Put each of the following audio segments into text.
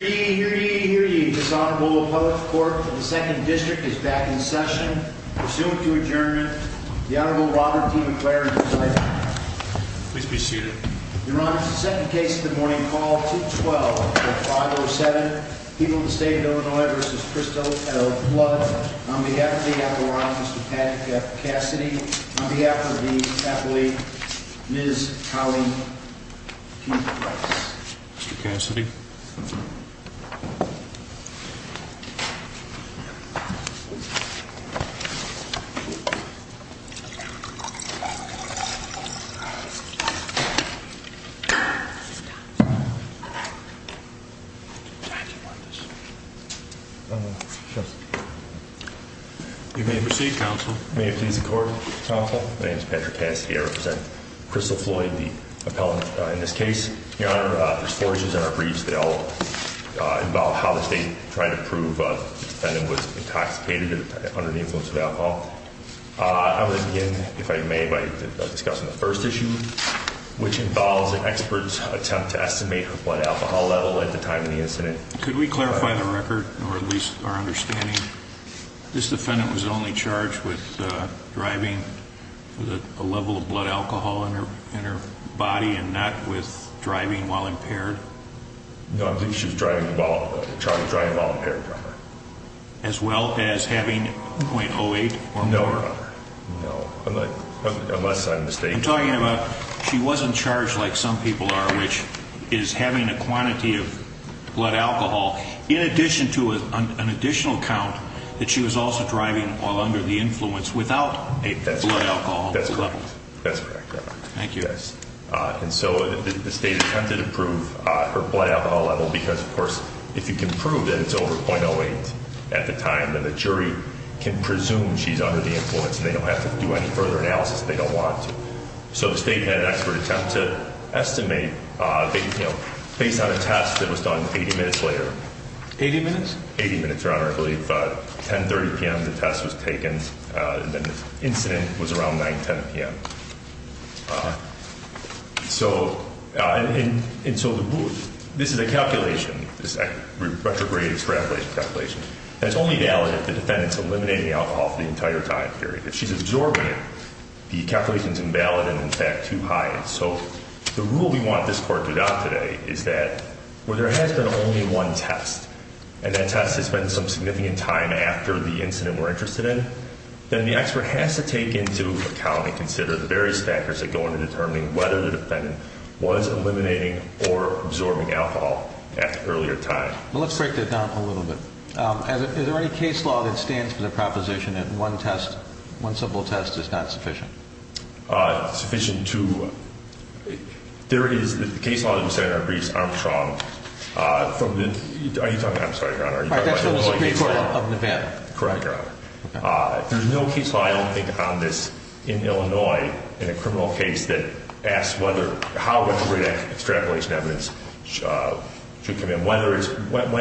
Hear ye, hear ye, hear ye, dishonorable public court of the 2nd District is back in session. Pursuant to adjournment, the Honorable Robert D. McLaren is invited. Please be seated. Your Honor, this is the second case of the morning. Call 2-12-0507. People of the State of Illinois v. Christo L. Floyd. On behalf of the apparatus, Mr. Patrick F. Cassidy. On behalf of the appellee, Ms. Colleen Q. Price. Mr. Cassidy. You may proceed, Counsel. May it please the Court, Counsel. My name is Patrick Cassidy. I represent Christo Floyd, the appellant in this case. Your Honor, there's four issues in our briefs. They all involve how the State tried to prove the defendant was intoxicated under the influence of alcohol. I'm going to begin, if I may, by discussing the first issue, which involves an expert's attempt to estimate her blood alcohol level at the time of the incident. Could we clarify the record, or at least our understanding? This defendant was only charged with driving a level of blood alcohol in her body and not with driving while impaired? No, I think she was driving while impaired, Your Honor. As well as having .08 or more? No, Your Honor. No. Unless I'm mistaken. I'm talking about she wasn't charged like some people are, which is having a quantity of blood alcohol in addition to an additional count that she was also driving while under the influence without a blood alcohol level. That's correct, Your Honor. Thank you. And so the State attempted to prove her blood alcohol level because, of course, if you can prove that it's over .08 at the time, then the jury can presume she's under the influence and they don't have to do any further analysis if they don't want to. So the State had an expert attempt to estimate based on a test that was done 80 minutes later. Eighty minutes? Eighty minutes, Your Honor. I believe 10.30 p.m. the test was taken. The incident was around 9.10 p.m. And so this is a calculation, this retrograde extrapolation calculation, and it's only valid if the defendant's eliminating alcohol for the entire time period. If she's absorbing it, the calculation's invalid and, in fact, too high. And so the rule we want this Court to adopt today is that where there has been only one test and that test has been some significant time after the incident we're interested in, then the expert has to take into account and consider the various factors that go into determining whether the defendant was eliminating or absorbing alcohol at an earlier time. Well, let's break that down a little bit. Is there any case law that stands for the proposition that one test, one simple test, is not sufficient? Sufficient to? There is the case law that was set in our briefs, Armstrong. Are you talking about? I'm sorry, Your Honor. That's from the Supreme Court of Nevada. Correct, Your Honor. There's no case law, I don't think, on this in Illinois in a criminal case that asks how retrograde extrapolation evidence should come in. When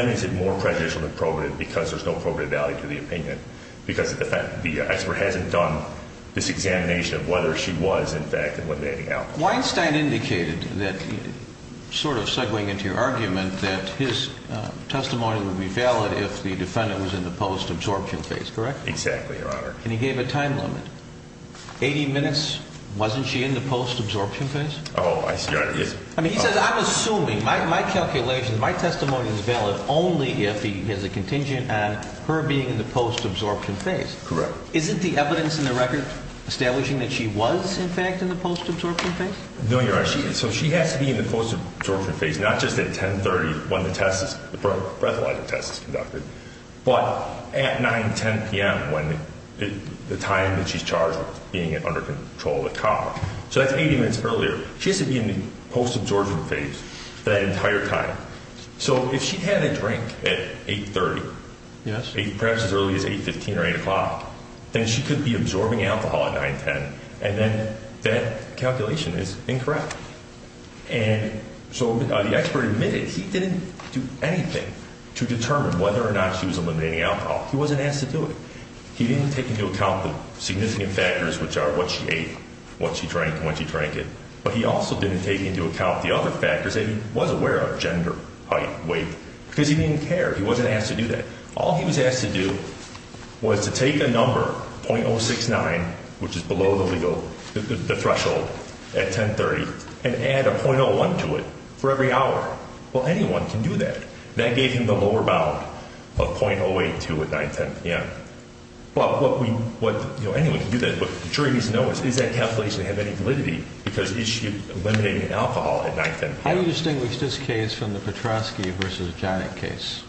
is it more prejudicial than probative because there's no probative value to the opinion because the expert hasn't done this examination of whether she was, in fact, eliminating alcohol? Weinstein indicated that, sort of segwaying into your argument, that his testimony would be valid if the defendant was in the post-absorption phase, correct? Exactly, Your Honor. And he gave a time limit, 80 minutes. Wasn't she in the post-absorption phase? Oh, I see. I mean, he says, I'm assuming, my calculations, my testimony is valid only if he has a contingent on her being in the post-absorption phase. Correct. Isn't the evidence in the record establishing that she was, in fact, in the post-absorption phase? No, Your Honor. So she has to be in the post-absorption phase, not just at 10.30 when the breathalyzer test is conducted, but at 9.10 p.m. when the time that she's charged with being under control of the cop. So that's 80 minutes earlier. She has to be in the post-absorption phase that entire time. So if she had a drink at 8.30, perhaps as early as 8.15 or 8 o'clock, then she could be absorbing alcohol at 9.10, and then that calculation is incorrect. And so the expert admitted he didn't do anything to determine whether or not she was eliminating alcohol. He wasn't asked to do it. He didn't take into account the significant factors, which are what she ate, what she drank, and when she drank it. But he also didn't take into account the other factors that he was aware of, gender, height, weight, because he didn't care. He wasn't asked to do that. All he was asked to do was to take a number, .069, which is below the legal threshold at 10.30, and add a .01 to it for every hour. Well, anyone can do that. That gave him the lower bound of .082 at 9.10. Yeah. But what we, what, you know, anyone can do that. But the jury needs to know is, does that calculation have any validity? Because is she eliminating alcohol at 9.10? How do you distinguish this case from the Petrosky v. Jannik case?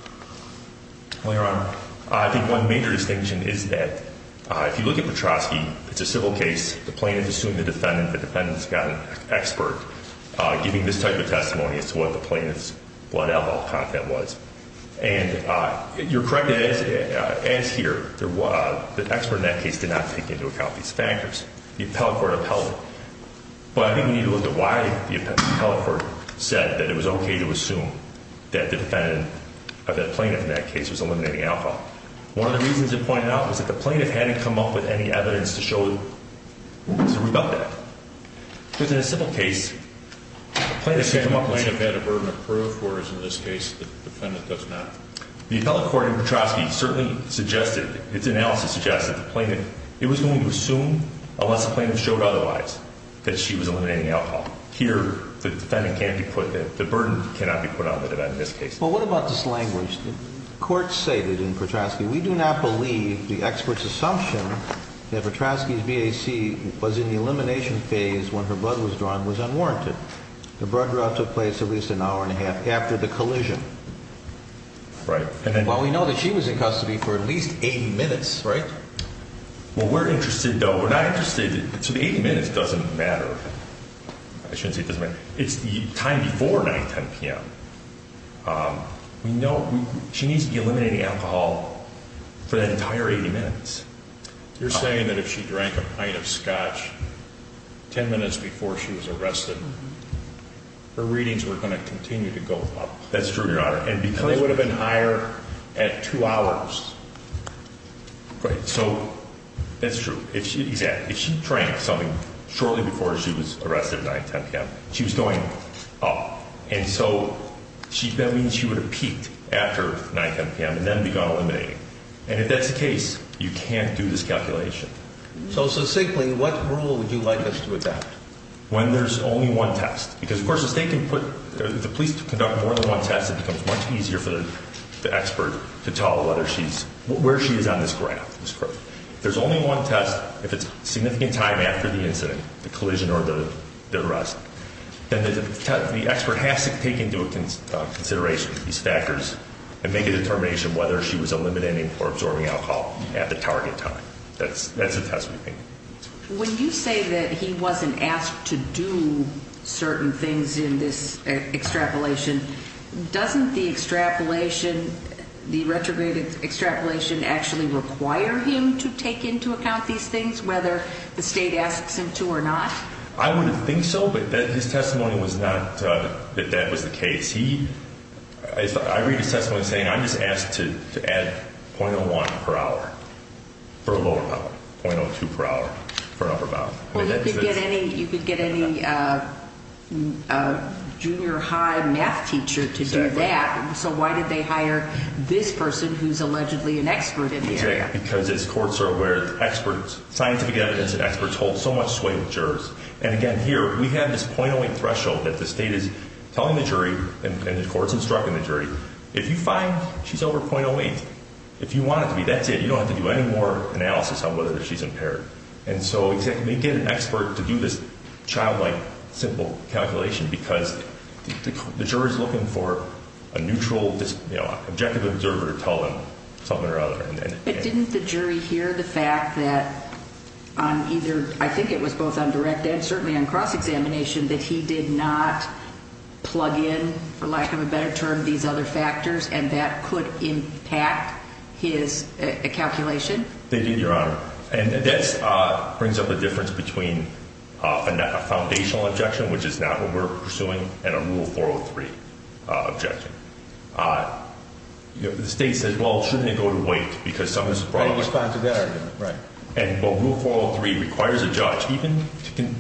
Well, Your Honor, I think one major distinction is that if you look at Petrosky, it's a civil case. The plaintiff assumed the defendant, the defendant's got an expert giving this type of testimony as to what the plaintiff's blood alcohol content was. And you're correct, as here, the expert in that case did not take into account these factors. The appellate court upheld them. But I think we need to look at why the appellate court said that it was okay to assume that the defendant, or the plaintiff in that case, was eliminating alcohol. One of the reasons it pointed out was that the plaintiff hadn't come up with any evidence to show, to rebut that. Because in a civil case, the plaintiff came up with something. The plaintiff had a burden of proof, whereas in this case, the defendant does not. The appellate court in Petrosky certainly suggested, its analysis suggested, the plaintiff, it was going to assume, unless the plaintiff showed otherwise, that she was eliminating alcohol. Here, the defendant can't be put, the burden cannot be put on the defendant in this case. Well, what about this language? The court stated in Petrosky, We do not believe the expert's assumption that Petrosky's BAC was in the elimination phase when her blood was drawn was unwarranted. The blood draw took place at least an hour and a half after the collision. Right. Well, we know that she was in custody for at least eight minutes, right? Well, we're interested, though. We're not interested. So the eight minutes doesn't matter. I shouldn't say it doesn't matter. It's the time before 9, 10 p.m. We know she needs to be eliminating alcohol for that entire 80 minutes. You're saying that if she drank a pint of scotch 10 minutes before she was arrested, her readings were going to continue to go up. That's true, Your Honor. And they would have been higher at two hours. Right. So that's true. If she drank something shortly before she was arrested at 9, 10 p.m., she was going up. And so that means she would have peaked after 9, 10 p.m. and then begun eliminating. And if that's the case, you can't do this calculation. So simply, what rule would you like us to adopt? When there's only one test. Because, of course, if the police conduct more than one test, it becomes much easier for the expert to tell where she is on this graph. There's only one test if it's a significant time after the incident, the collision or the arrest. Then the expert has to take into consideration these factors and make a determination whether she was eliminating or absorbing alcohol at the target time. That's a test, we think. When you say that he wasn't asked to do certain things in this extrapolation, doesn't the extrapolation, the retrograde extrapolation, actually require him to take into account these things, whether the state asks him to or not? I would think so, but his testimony was not that that was the case. I read his testimony saying, I'm just asked to add .01 per hour for a lower amount, .02 per hour for an upper amount. Well, you could get any junior high math teacher to do that. So why did they hire this person who's allegedly an expert in the area? Because as courts are aware, experts, scientific evidence and experts hold so much sway with jurors. And again, here, we have this .08 threshold that the state is telling the jury and the courts instructing the jury, if you find she's over .08, if you want it to be, that's it. You don't have to do any more analysis on whether she's impaired. And so they get an expert to do this childlike, simple calculation because the jury is looking for a neutral, objective observer to tell them something or other. But didn't the jury hear the fact that on either, I think it was both on direct and certainly on cross-examination, that he did not plug in, for lack of a better term, these other factors and that could impact his calculation? They did, Your Honor. And this brings up the difference between a foundational objection, which is not what we're pursuing, and a Rule 403 objection. You know, the state says, well, shouldn't it go to wait because some of this is brought up. They didn't respond to that argument, right. And Rule 403 requires a judge even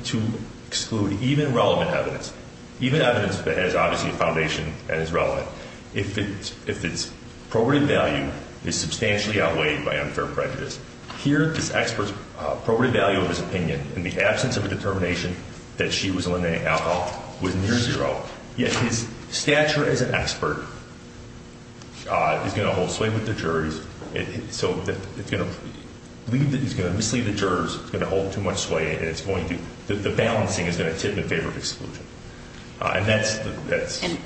to exclude even relevant evidence, even evidence that has obviously a foundation and is relevant, if its probative value is substantially outweighed by unfair prejudice. Here, this expert's probative value of his opinion in the absence of a determination that she was eliminating alcohol was near zero. Yet his stature as an expert is going to hold sway with the juries. So it's going to mislead the jurors. It's going to hold too much sway and it's going to, the balancing is going to tip in favor of exclusion. And that's. And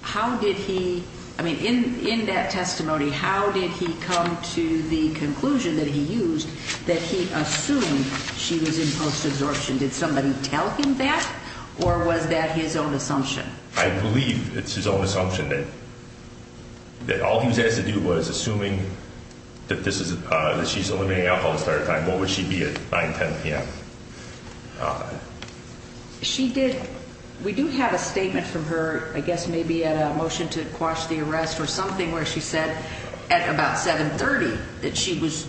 how did he, I mean, in that testimony, how did he come to the conclusion that he used that he assumed she was in post-absorption? Did somebody tell him that or was that his own assumption? I believe it's his own assumption that all he was asked to do was, assuming that this is, that she's eliminating alcohol at the start of time, what would she be at 9, 10 p.m.? She did. We do have a statement from her, I guess maybe at a motion to quash the arrest or something, where she said at about 730 that she was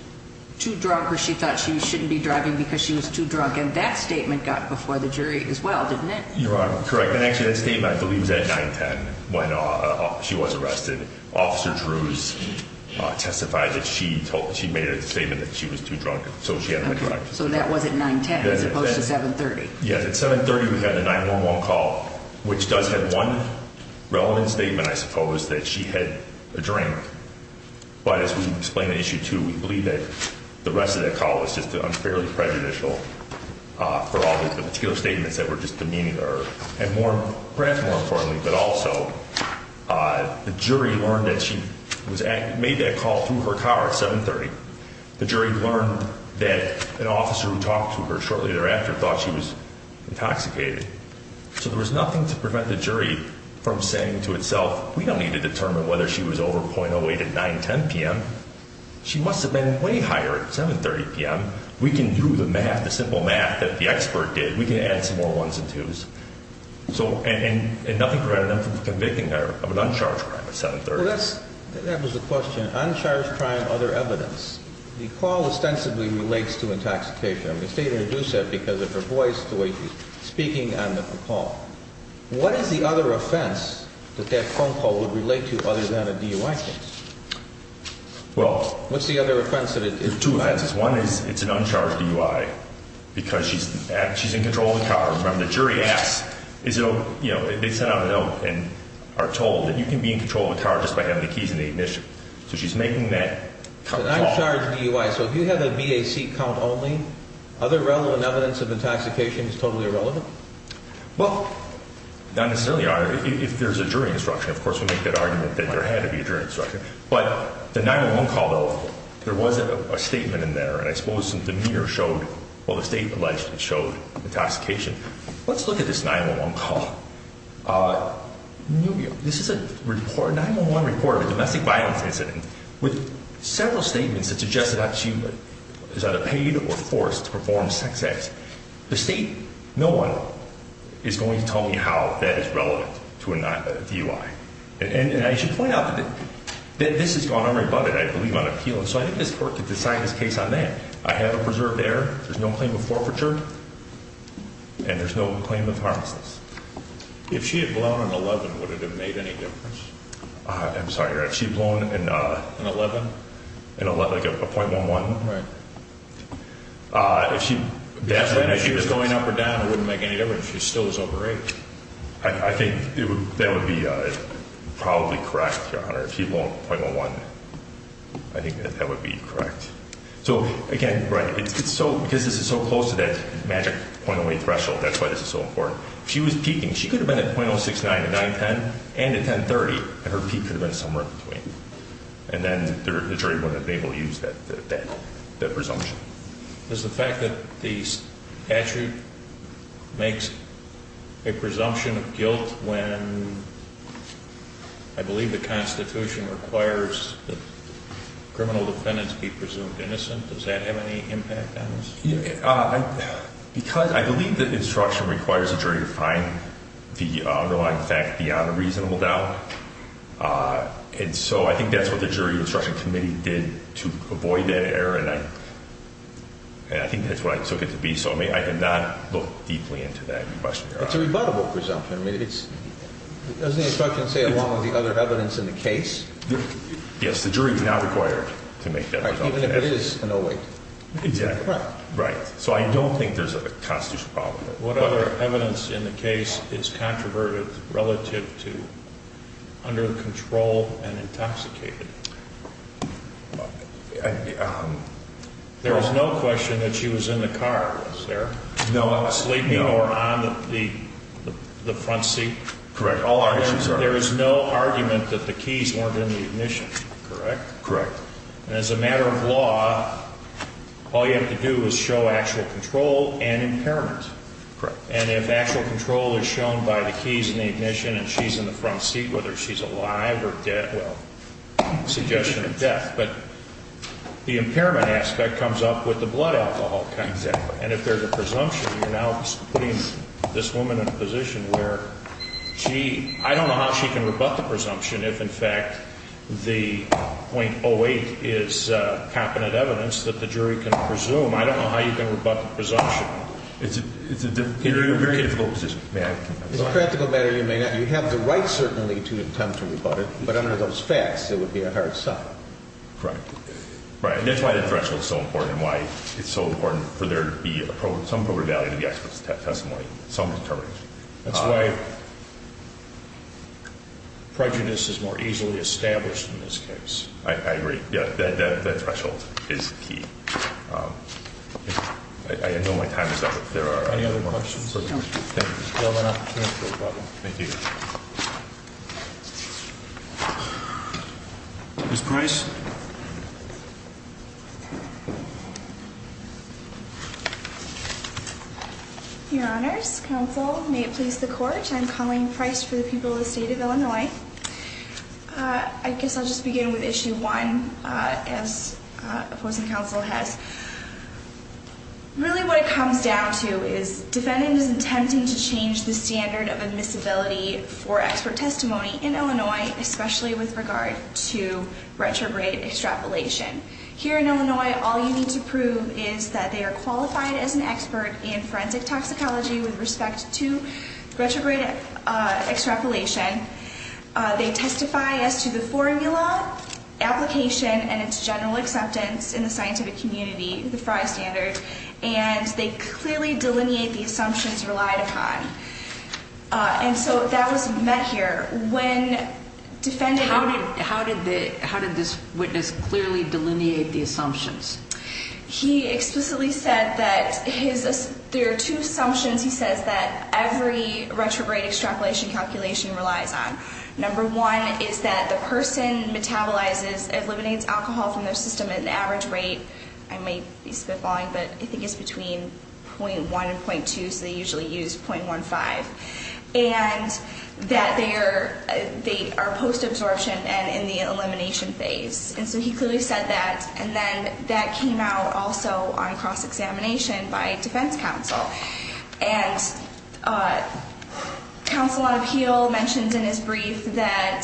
too drunk or she thought she shouldn't be driving because she was too drunk. And that statement got before the jury as well, didn't it? Your Honor, correct. And actually that statement, I believe, was at 9, 10 when she was arrested. Officer Drews testified that she made a statement that she was too drunk so she had to drive. So that was at 9, 10 as opposed to 7, 30? Yes. At 7, 30 we had the 911 call, which does have one relevant statement, I suppose, that she had a drink. But as we explained in Issue 2, we believe that the rest of that call was just unfairly prejudicial for all the particular statements that were just demeaning her. And perhaps more importantly, but also, the jury learned that she made that call through her car at 7, 30. The jury learned that an officer who talked to her shortly thereafter thought she was intoxicated. So there was nothing to prevent the jury from saying to itself, we don't need to determine whether she was over .08 at 9, 10 p.m. She must have been way higher at 7, 30 p.m. We can do the math, the simple math that the expert did. We can add some more ones and twos. And nothing prevented them from convicting her of an uncharged crime at 7, 30. That was the question, uncharged crime, other evidence. The call ostensibly relates to intoxication. I'm going to stay here and deduce that because of her voice, the way she's speaking on the call. What is the other offense that that phone call would relate to other than a DUI case? Well, there's two offenses. One is it's an uncharged DUI because she's in control of the car. Remember, the jury asked, they sent out a note and are told that you can be in control of a car just by having the keys in the ignition. So she's making that call. Uncharged DUI. So if you have a BAC count only, other relevant evidence of intoxication is totally irrelevant? Well, not necessarily, Your Honor. If there's a jury instruction, of course we make that argument that there had to be a jury instruction. But the 911 call, though, there was a statement in there, and I suppose the meter showed, well, the state alleged it showed intoxication. Let's look at this 911 call. This is a 911 report of a domestic violence incident with several statements that suggested that she was either paid or forced to perform sex acts. The state, no one, is going to tell me how that is relevant to a DUI. And I should point out that this has gone unrebutted, I believe, on appeal. And so I think this Court could decide this case on that. I have it preserved there. There's no claim of forfeiture. And there's no claim of harms. If she had blown an 11, would it have made any difference? I'm sorry, Your Honor. If she had blown an 11? Like a .11? Right. If she was going up or down, it wouldn't make any difference. She still was over 8. I think that would be probably correct, Your Honor. If she had blown a .11, I think that would be correct. So, again, because this is so close to that magic .08 threshold, that's why this is so important. If she was peaking, she could have been at .069, a 910, and a 1030, and her peak could have been somewhere in between. And then the jury wouldn't have been able to use that presumption. Does the fact that the statute makes a presumption of guilt when I believe the Constitution requires that criminal defendants be presumed innocent, does that have any impact on this? I believe that instruction requires the jury to find the underlying fact beyond a reasonable doubt. And so I think that's what the Jury Instruction Committee did to avoid that error. And I think that's what I took it to be. So, I mean, I did not look deeply into that question, Your Honor. It's a rebuttable presumption. I mean, doesn't the instruction say along with the other evidence in the case? Yes. The jury is not required to make that presumption. All right. Even if it is an 08. Exactly. Right. So I don't think there's a constitutional problem. What other evidence in the case is controverted relative to under control and intoxicated? There is no question that she was in the car, was there? No. Sleeping or on the front seat? Correct. All arguments are. There is no argument that the keys weren't in the ignition, correct? Correct. And as a matter of law, all you have to do is show actual control and impairment. Correct. And if actual control is shown by the keys in the ignition and she's in the front seat, whether she's alive or dead, well, it's a suggestion of death. But the impairment aspect comes up with the blood alcohol kind of thing. Exactly. And if there's a presumption, you're now putting this woman in a position where, gee, I don't know how she can rebut the presumption if, in fact, the 0.08 is competent evidence that the jury can presume. I don't know how you can rebut the presumption. It's a very difficult position. May I? As a practical matter, you may not. You have the right, certainly, to attempt to rebut it. But under those facts, it would be a hard sell. Correct. Right. And that's why the threshold is so important and why it's so important for there to be some appropriate value to the expert's testimony, some determination. That's why prejudice is more easily established in this case. I agree. Yeah, that threshold is key. I know my time is up. There are any other questions? No. Thank you. Thank you. Ms. Price? Your Honors, Counsel, may it please the Court, I'm Colleen Price for the people of the State of Illinois. I guess I'll just begin with Issue 1, as opposing counsel has. Really what it comes down to is defendant is attempting to change the standard of admissibility for expert testimony in Illinois, especially with regard to retrograde extrapolation. Here in Illinois, all you need to prove is that they are qualified as an expert in forensic toxicology with respect to retrograde extrapolation. They testify as to the formula, application, and its general acceptance in the scientific community, the FRI standard. And they clearly delineate the assumptions relied upon. And so that was met here. How did this witness clearly delineate the assumptions? He explicitly said that there are two assumptions he says that every retrograde extrapolation calculation relies on. Number one is that the person metabolizes, eliminates alcohol from their system at an average rate. I may be spitballing, but I think it's between .1 and .2, so they usually use .15. And that they are post-absorption and in the elimination phase. And so he clearly said that, and then that came out also on cross-examination by defense counsel. And counsel on appeal mentioned in his brief that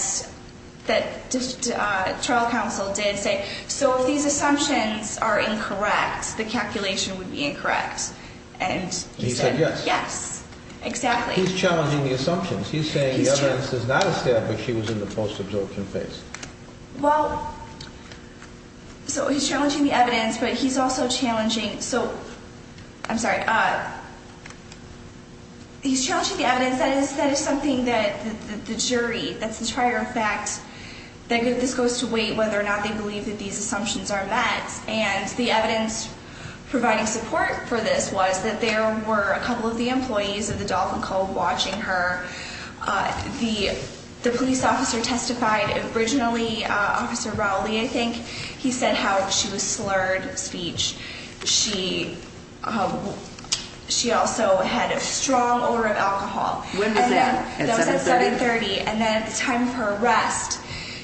trial counsel did say, so if these assumptions are incorrect, the calculation would be incorrect. And he said yes. Yes, exactly. He's challenging the assumptions. He's saying the evidence is not established. She was in the post-absorption phase. Well, so he's challenging the evidence, but he's also challenging, so, I'm sorry, he's challenging the evidence. That is something that the jury, that's the trier of fact, that this goes to weight whether or not they believe that these assumptions are met. And the evidence providing support for this was that there were a couple of the employees of the Dolphin Club watching her. The police officer testified originally, Officer Rowley, I think, he said how she was slurred speech. She also had a strong odor of alcohol. When was that, at 7.30? That was at 7.30, and then at the time of her arrest,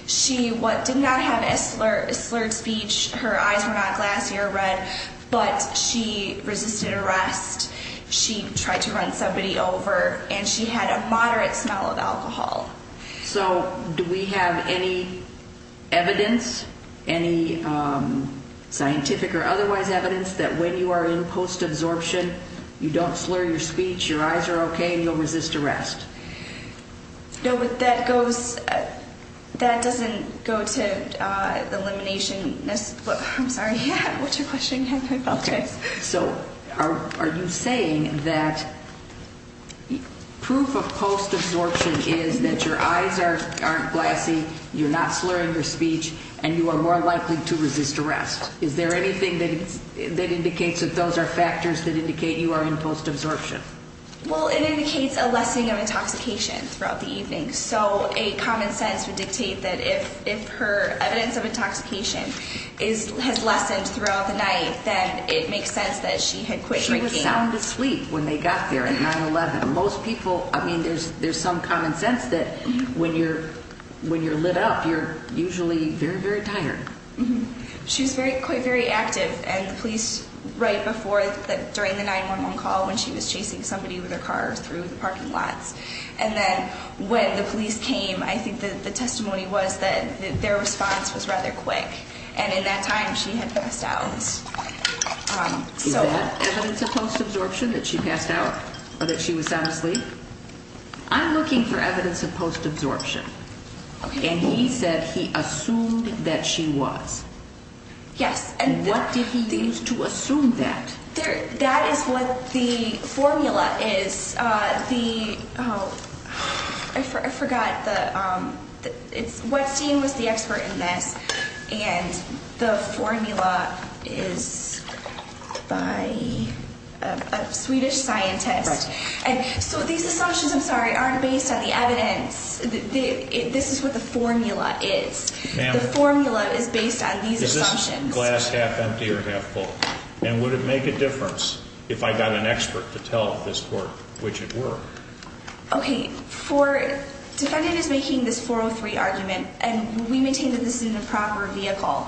she did not have a slurred speech. Her eyes were not glassy or red, but she resisted arrest. She tried to run somebody over, and she had a moderate smell of alcohol. So do we have any evidence, any scientific or otherwise evidence, that when you are in post-absorption, you don't slur your speech, your eyes are okay, and you'll resist arrest? No, but that goes, that doesn't go to the elimination, I'm sorry, what's your question? So are you saying that proof of post-absorption is that your eyes aren't glassy, you're not slurring your speech, and you are more likely to resist arrest? Is there anything that indicates that those are factors that indicate you are in post-absorption? Well, it indicates a lessening of intoxication throughout the evening. So a common sense would dictate that if her evidence of intoxication has lessened throughout the night, then it makes sense that she had quit drinking. She was sound asleep when they got there at 9-11. Most people, I mean, there's some common sense that when you're lit up, you're usually very, very tired. She was quite very active, and the police, right before, during the 9-11 call, when she was chasing somebody with her car through the parking lots, and then when the police came, I think the testimony was that their response was rather quick. And in that time, she had passed out. Is that evidence of post-absorption, that she passed out, or that she was sound asleep? I'm looking for evidence of post-absorption. And he said he assumed that she was. Yes. And what did he use to assume that? That is what the formula is. The, oh, I forgot. Whatstein was the expert in this, and the formula is by a Swedish scientist. Right. And so these assumptions, I'm sorry, aren't based on the evidence. This is what the formula is. Ma'am. The formula is based on these assumptions. Is this glass half empty or half full? And would it make a difference if I got an expert to tell this court which it were? Okay, for, defendant is making this 403 argument, and we maintain that this is an improper vehicle.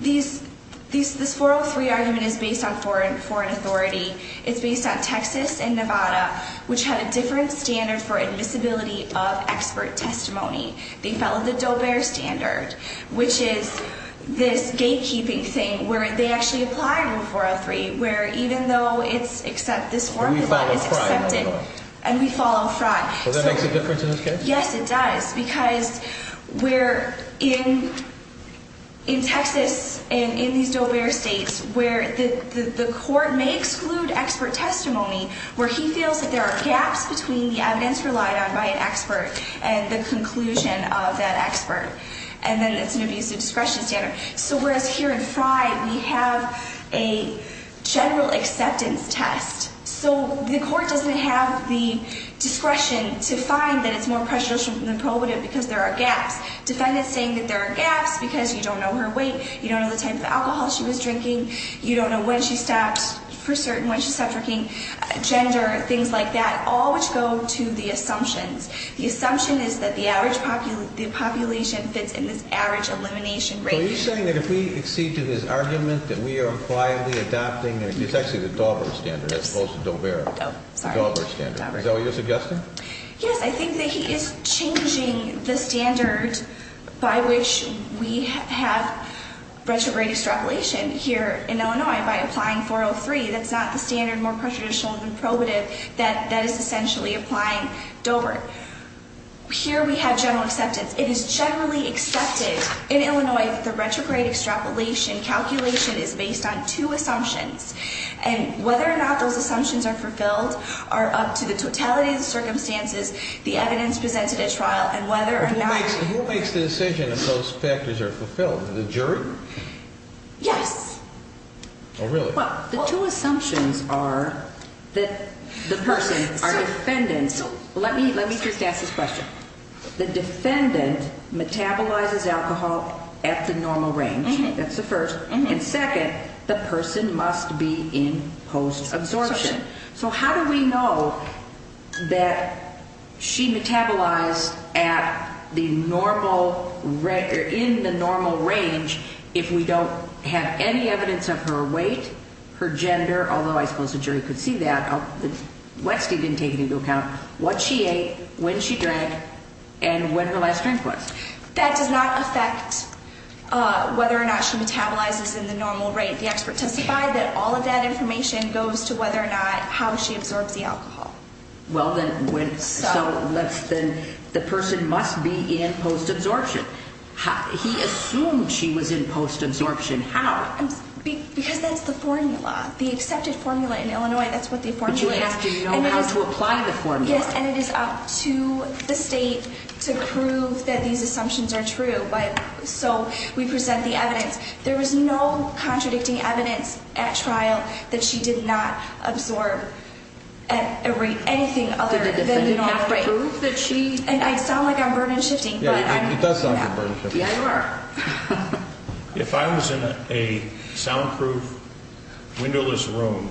These, this 403 argument is based on foreign authority. It's based on Texas and Nevada, which have a different standard for admissibility of expert testimony. They follow the Dober standard, which is this gatekeeping thing where they actually apply rule 403, where even though it's, except this formula is accepted. And we follow fraud. And we follow fraud. So that makes a difference in this case? Yes, it does, because we're in Texas and in these Dober states where the court may exclude expert testimony, where he feels that there are gaps between the evidence relied on by an expert and the conclusion of that expert. And then it's an abusive discretion standard. So whereas here in Frye, we have a general acceptance test. So the court doesn't have the discretion to find that it's more prescient than probative because there are gaps. Defendant's saying that there are gaps because you don't know her weight, you don't know the type of alcohol she was drinking, you don't know when she stopped for certain, when she stopped drinking, gender, things like that, all which go to the assumptions. The assumption is that the average population fits in this average elimination rate. So are you saying that if we accede to this argument that we are unquietly adopting, it's actually the Daubert standard as opposed to Dober, the Daubert standard. Is that what you're suggesting? Yes, I think that he is changing the standard by which we have retrograde extrapolation here in Illinois by applying 403. That's not the standard more prescient than probative. That is essentially applying Dober. Here we have general acceptance. It is generally accepted in Illinois that the retrograde extrapolation calculation is based on two assumptions, and whether or not those assumptions are fulfilled are up to the totality of the circumstances, the evidence presented at trial, and whether or not. Who makes the decision if those factors are fulfilled, the jury? Yes. Oh, really? Well, the two assumptions are that the person, our defendant. Let me just ask this question. The defendant metabolizes alcohol at the normal range. That's the first. And second, the person must be in post-absorption. So how do we know that she metabolized in the normal range if we don't have any evidence of her weight, her gender, although I suppose the jury could see that. Westie didn't take it into account. What she ate, when she drank, and when her last drink was. That does not affect whether or not she metabolizes in the normal range. The expert testified that all of that information goes to whether or not how she absorbs the alcohol. Well, then, so let's then, the person must be in post-absorption. He assumed she was in post-absorption. How? Because that's the formula, the accepted formula in Illinois. That's what the formula is. But you asked do you know how to apply the formula. Yes, and it is up to the state to prove that these assumptions are true. So we present the evidence. There was no contradicting evidence at trial that she did not absorb anything other than the normal range. Did the defendant have to prove that she? And I sound like I'm burden-shifting. It does sound like you're burden-shifting. Yeah, you are. If I was in a soundproof, windowless room,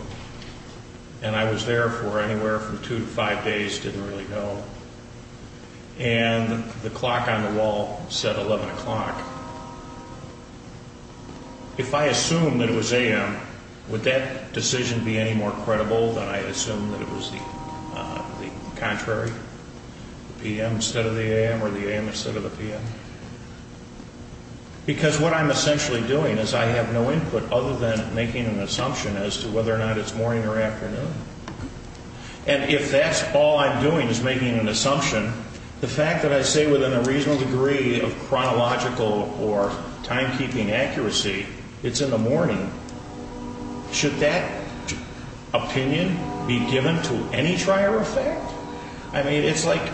and I was there for anywhere from two to five days, didn't really know, and the clock on the wall said 11 o'clock, if I assumed that it was a.m., would that decision be any more credible that I assumed that it was the contrary, the p.m. instead of the a.m. or the a.m. instead of the p.m.? Because what I'm essentially doing is I have no input other than making an assumption as to whether or not it's morning or afternoon. And if that's all I'm doing is making an assumption, the fact that I say within a reasonable degree of chronological or timekeeping accuracy it's in the morning, should that opinion be given to any trier effect? I mean, it's like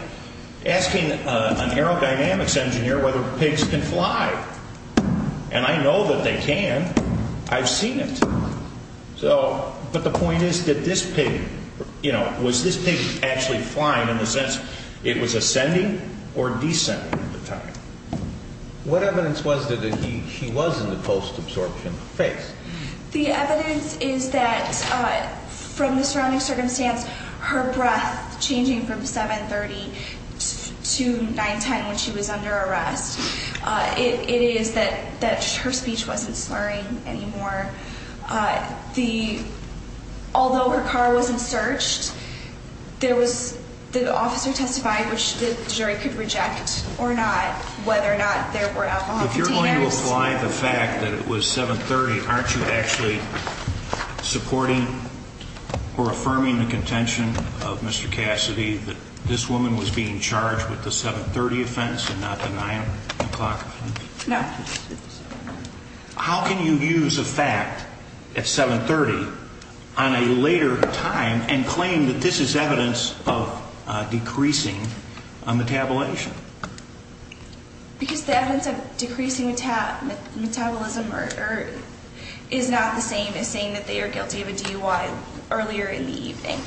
asking an aerodynamics engineer whether pigs can fly. And I know that they can. I've seen it. So, but the point is that this pig, you know, was this pig actually flying in the sense it was ascending or descending at the time? What evidence was there that she was in the post-absorption phase? The evidence is that from the surrounding circumstance, her breath changing from 7.30 to 9.10 when she was under arrest. It is that her speech wasn't slurring anymore. Although her car wasn't searched, the officer testified, which the jury could reject or not, whether or not there were alcohol containers. If you're going to apply the fact that it was 7.30, aren't you actually supporting or affirming the contention of Mr. Cassidy that this woman was being charged with the 7.30 offense and not the 9 o'clock offense? No. How can you use a fact at 7.30 on a later time and claim that this is evidence of decreasing metabolism? Because the evidence of decreasing metabolism is not the same as saying that they are guilty of a DUI earlier in the evening.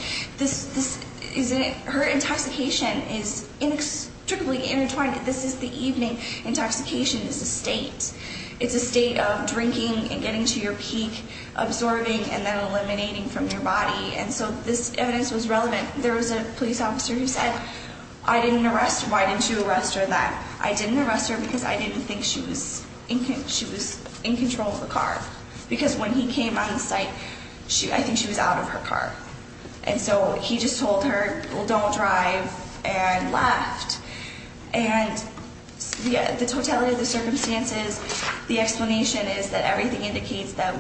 Her intoxication is inextricably intertwined. This is the evening intoxication. It's a state. It's a state of drinking and getting to your peak, absorbing and then eliminating from your body. And so this evidence was relevant. There was a police officer who said, I didn't arrest her. Why didn't you arrest her? That I didn't arrest her because I didn't think she was in control of the car. Because when he came on the site, I think she was out of her car. And so he just told her, well, don't drive and left. And the totality of the circumstances, the explanation is that everything indicates that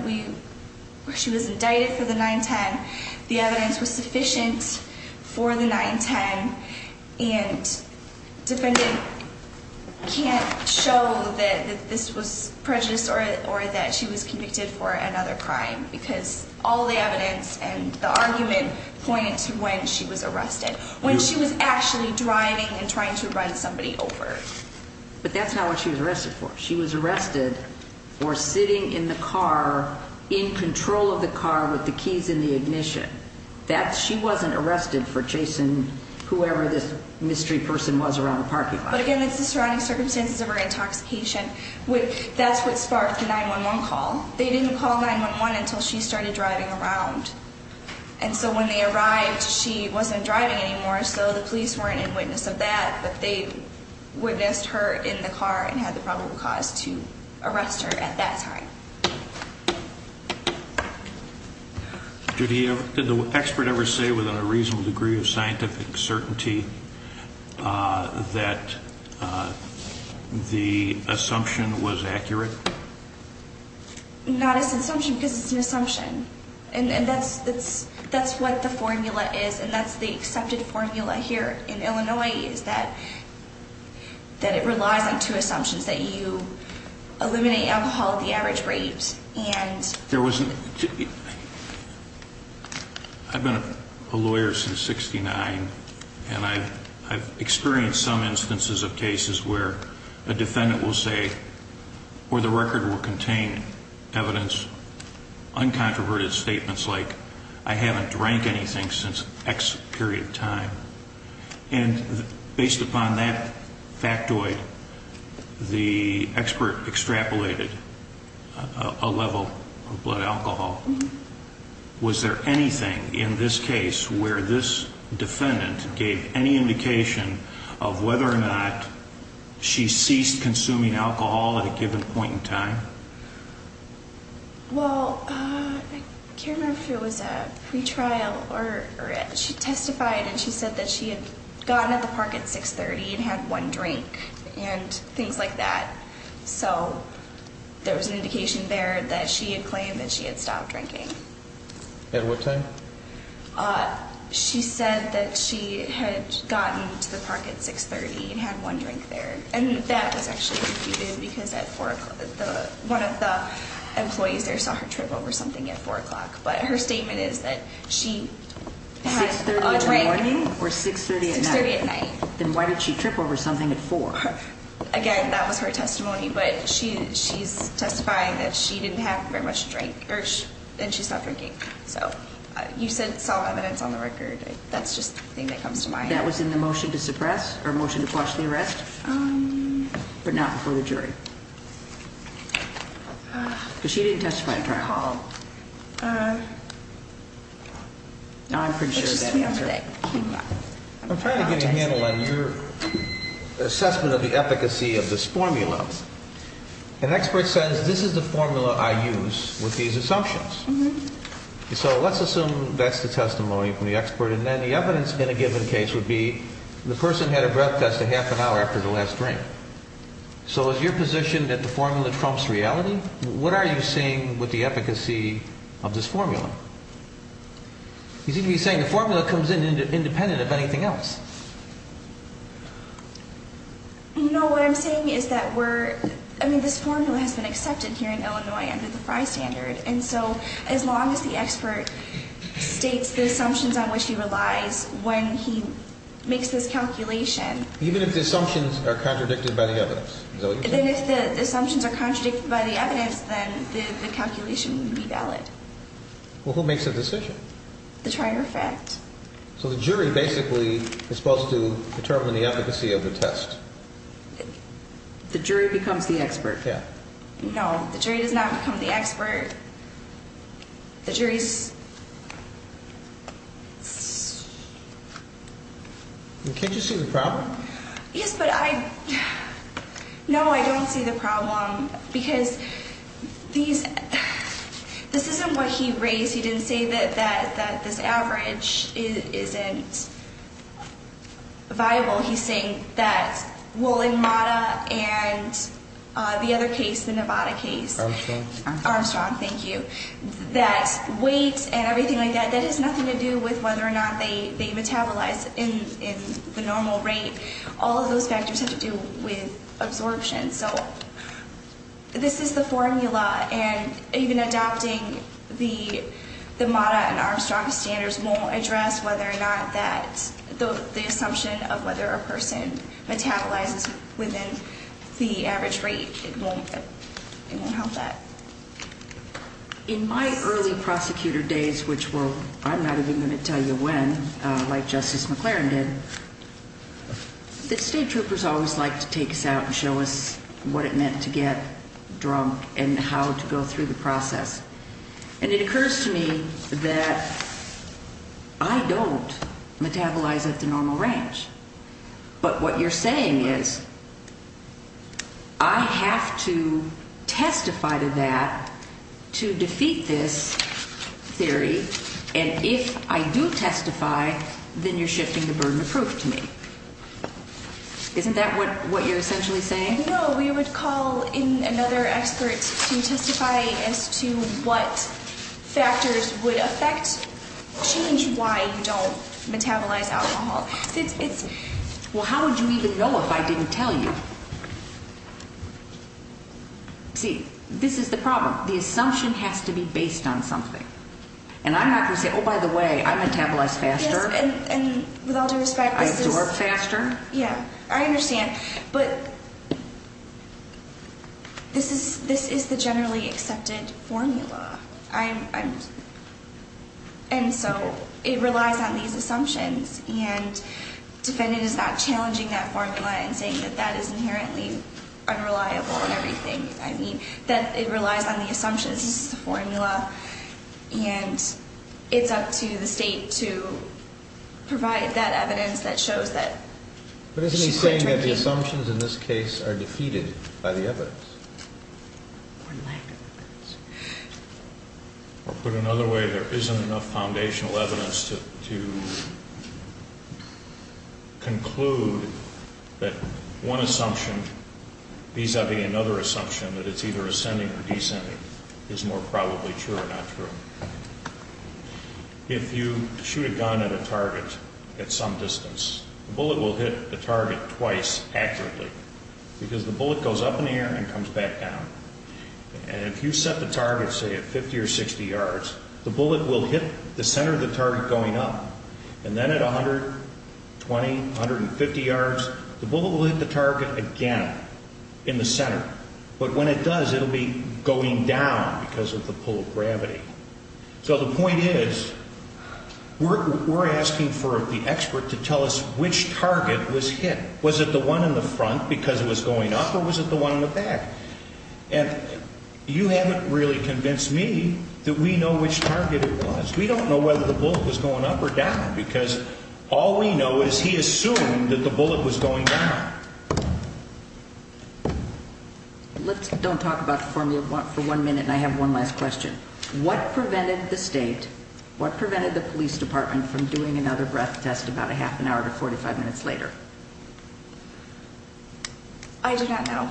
she was indicted for the 9.10. The evidence was sufficient for the 9.10. And defendant can't show that this was prejudice or that she was convicted for another crime. Because all the evidence and the argument point to when she was arrested. When she was actually driving and trying to run somebody over. But that's not what she was arrested for. She was arrested for sitting in the car, in control of the car with the keys in the ignition. She wasn't arrested for chasing whoever this mystery person was around the parking lot. But again, it's the surrounding circumstances of her intoxication. That's what sparked the 9.11 call. They didn't call 9.11 until she started driving around. And so when they arrived, she wasn't driving anymore. So the police weren't in witness of that. But they witnessed her in the car and had the probable cause to arrest her at that time. Did the expert ever say with a reasonable degree of scientific certainty that the assumption was accurate? And that's what the formula is. And that's the accepted formula here in Illinois. Is that it relies on two assumptions. That you eliminate alcohol at the average rate. I've been a lawyer since 1969. And I've experienced some instances of cases where a defendant will say, evidence, uncontroverted statements like, I haven't drank anything since X period of time. And based upon that factoid, the expert extrapolated a level of blood alcohol. Was there anything in this case where this defendant gave any indication of whether or not she ceased consuming alcohol at a given point in time? Well, I can't remember if it was a pre-trial. She testified and she said that she had gotten at the park at 6.30 and had one drink. And things like that. So there was an indication there that she had claimed that she had stopped drinking. At what time? She said that she had gotten to the park at 6.30 and had one drink there. And that was actually confuted because one of the employees there saw her trip over something at 4 o'clock. But her statement is that she had a drink. 6.30 in the morning or 6.30 at night? 6.30 at night. Then why did she trip over something at 4? Again, that was her testimony. But she's testifying that she didn't have very much drink. And she stopped drinking. You said solid evidence on the record. That's just the thing that comes to mind. That was in the motion to suppress or motion to quash the arrest? But not before the jury? Because she didn't testify at trial. I'm pretty sure of that answer. I'm trying to get a handle on your assessment of the efficacy of this formula. An expert says this is the formula I use with these assumptions. So let's assume that's the testimony from the expert. And then the evidence in a given case would be the person had a breath test a half an hour after the last drink. So is your position that the formula trumps reality? What are you saying with the efficacy of this formula? You seem to be saying the formula comes in independent of anything else. No, what I'm saying is that we're, I mean, this formula has been accepted here in Illinois under the Frey standard. And so as long as the expert states the assumptions on which he relies when he makes this calculation. Even if the assumptions are contradicted by the evidence? Then if the assumptions are contradicted by the evidence, then the calculation would be valid. Well, who makes the decision? The trier of fact. So the jury basically is supposed to determine the efficacy of the test. The jury becomes the expert. Yeah. No, the jury does not become the expert. The jury's. Can't you see the problem? Yes, but I, no, I don't see the problem because these, this isn't what he raised. He didn't say that, that, that this average isn't viable. He's saying that, well, in Mata and the other case, the Nevada case. Armstrong. Armstrong, thank you. That weight and everything like that, that has nothing to do with whether or not they metabolize in the normal rate. All of those factors have to do with absorption. So this is the formula, and even adopting the Mata and Armstrong standards won't address whether or not that, the assumption of whether a person metabolizes within the average rate. It won't help that. In my early prosecutor days, which were, I'm not even going to tell you when, like Justice McLaren did, the state troopers always like to take us out and show us what it meant to get drunk and how to go through the process. And it occurs to me that I don't metabolize at the normal range. But what you're saying is I have to testify to that to defeat this theory. And if I do testify, then you're shifting the burden of proof to me. Isn't that what you're essentially saying? No, we would call in another expert to testify as to what factors would affect, change why you don't metabolize alcohol. Well, how would you even know if I didn't tell you? See, this is the problem. The assumption has to be based on something. And I'm not going to say, oh, by the way, I metabolize faster. Yes, and with all due respect, this is... I absorb faster. Yeah, I understand. But this is the generally accepted formula. And so it relies on these assumptions. And defendant is not challenging that formula and saying that that is inherently unreliable and everything. I mean that it relies on the assumptions. This is the formula. And it's up to the state to provide that evidence that shows that she could drink even more. But isn't he saying that the assumptions in this case are defeated by the evidence? Or lack of evidence. Or put another way, there isn't enough foundational evidence to conclude that one assumption, vis-a-vis another assumption that it's either ascending or descending, is more probably true or not true. If you shoot a gun at a target at some distance, the bullet will hit the target twice accurately because the bullet goes up in the air and comes back down. And if you set the target, say, at 50 or 60 yards, the bullet will hit the center of the target going up. And then at 120, 150 yards, the bullet will hit the target again in the center. But when it does, it will be going down because of the pull of gravity. So the point is we're asking for the expert to tell us which target was hit. Was it the one in the front because it was going up, or was it the one in the back? And you haven't really convinced me that we know which target it was. We don't know whether the bullet was going up or down because all we know is he assumed that the bullet was going down. Let's don't talk about the formula for one minute, and I have one last question. What prevented the state, what prevented the police department from doing another breath test about a half an hour to 45 minutes later? I do not know.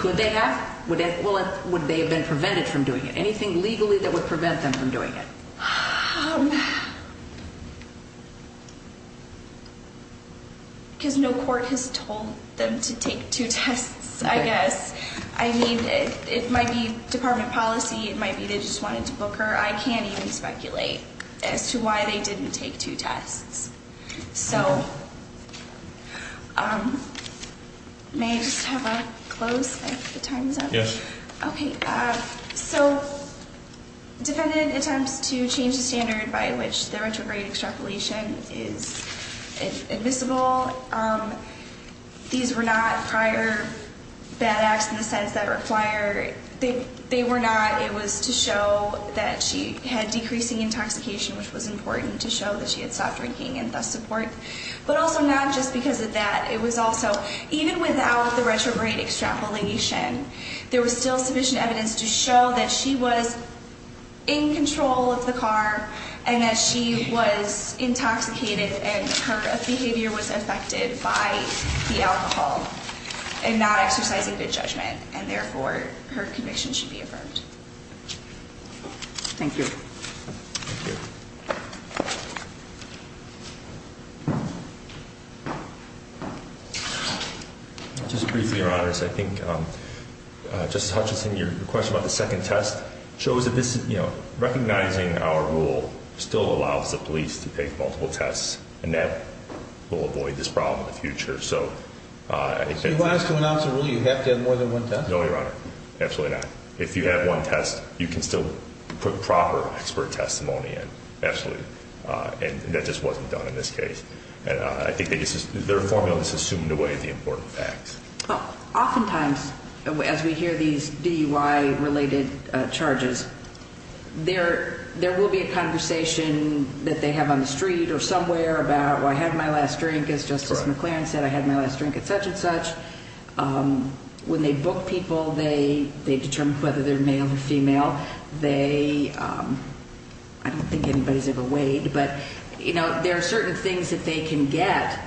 Could they have? Would they have been prevented from doing it? Anything legally that would prevent them from doing it? Because no court has told them to take two tests, I guess. I mean, it might be department policy. It might be they just wanted to book her. I can't even speculate as to why they didn't take two tests. So may I just have a close if the time is up? Yes. Okay. So defendant attempts to change the standard by which the retrograde extrapolation is admissible. These were not prior bad acts in the sense that they were not. It was to show that she had decreasing intoxication, which was important to show that she had stopped drinking and thus support. But also not just because of that. It was also even without the retrograde extrapolation, there was still sufficient evidence to show that she was in control of the car and that she was intoxicated and her behavior was affected by the alcohol and not exercising good judgment. And therefore, her conviction should be affirmed. Thank you. Thank you. Just briefly, Your Honor, I think Justice Hutchinson, your question about the second test shows that this, you know, recognizing our rule still allows the police to take multiple tests and that will avoid this problem in the future. So you want us to announce a rule you have to have more than one test? No, Your Honor. Absolutely not. If you have one test, you can still put proper expert testimony in. Absolutely. And that just wasn't done in this case. And I think their formula has assumed away the important facts. Oftentimes, as we hear these DUI-related charges, there will be a conversation that they have on the street or somewhere about, well, I had my last drink, as Justice McLaren said, I had my last drink, et cetera, et cetera. When they book people, they determine whether they're male or female. They, I don't think anybody's ever weighed, but, you know, there are certain things that they can get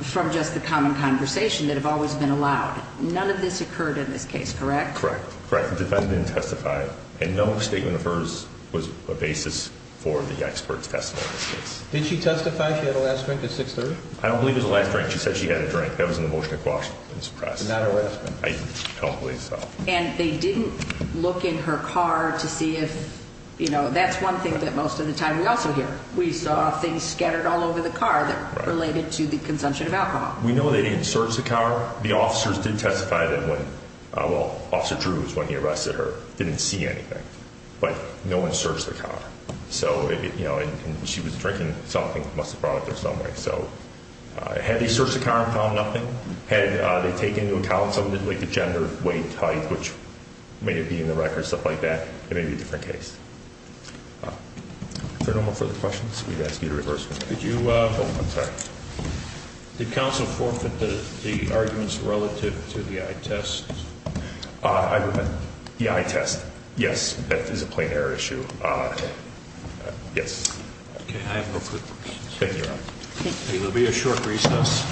from just the common conversation that have always been allowed. None of this occurred in this case, correct? Correct. Correct. The defendant didn't testify. And no statement of hers was a basis for the expert's testimony in this case. Did she testify? She had her last drink at 630? I don't believe it was the last drink. She said she had a drink. That was in the motion across this press. Not her last drink. I don't believe so. And they didn't look in her car to see if, you know, that's one thing that most of the time we also hear. We saw things scattered all over the car that related to the consumption of alcohol. We know they didn't search the car. The officers did testify that when, well, Officer Drew is when he arrested her, didn't see anything. But no one searched the car. So, you know, and she was drinking something, must have brought it there some way. So had they searched the car and found nothing? Had they taken into account something like the gender, weight, height, which may have been in the record, stuff like that, it may be a different case. If there are no more further questions, we'd ask you to reverse. Did you? Oh, I'm sorry. Did counsel forfeit the arguments relative to the eye test? The eye test? Yes. That is a plain error issue. Yes. Okay. I have no further questions. Thank you, Your Honor. There will be a short recess.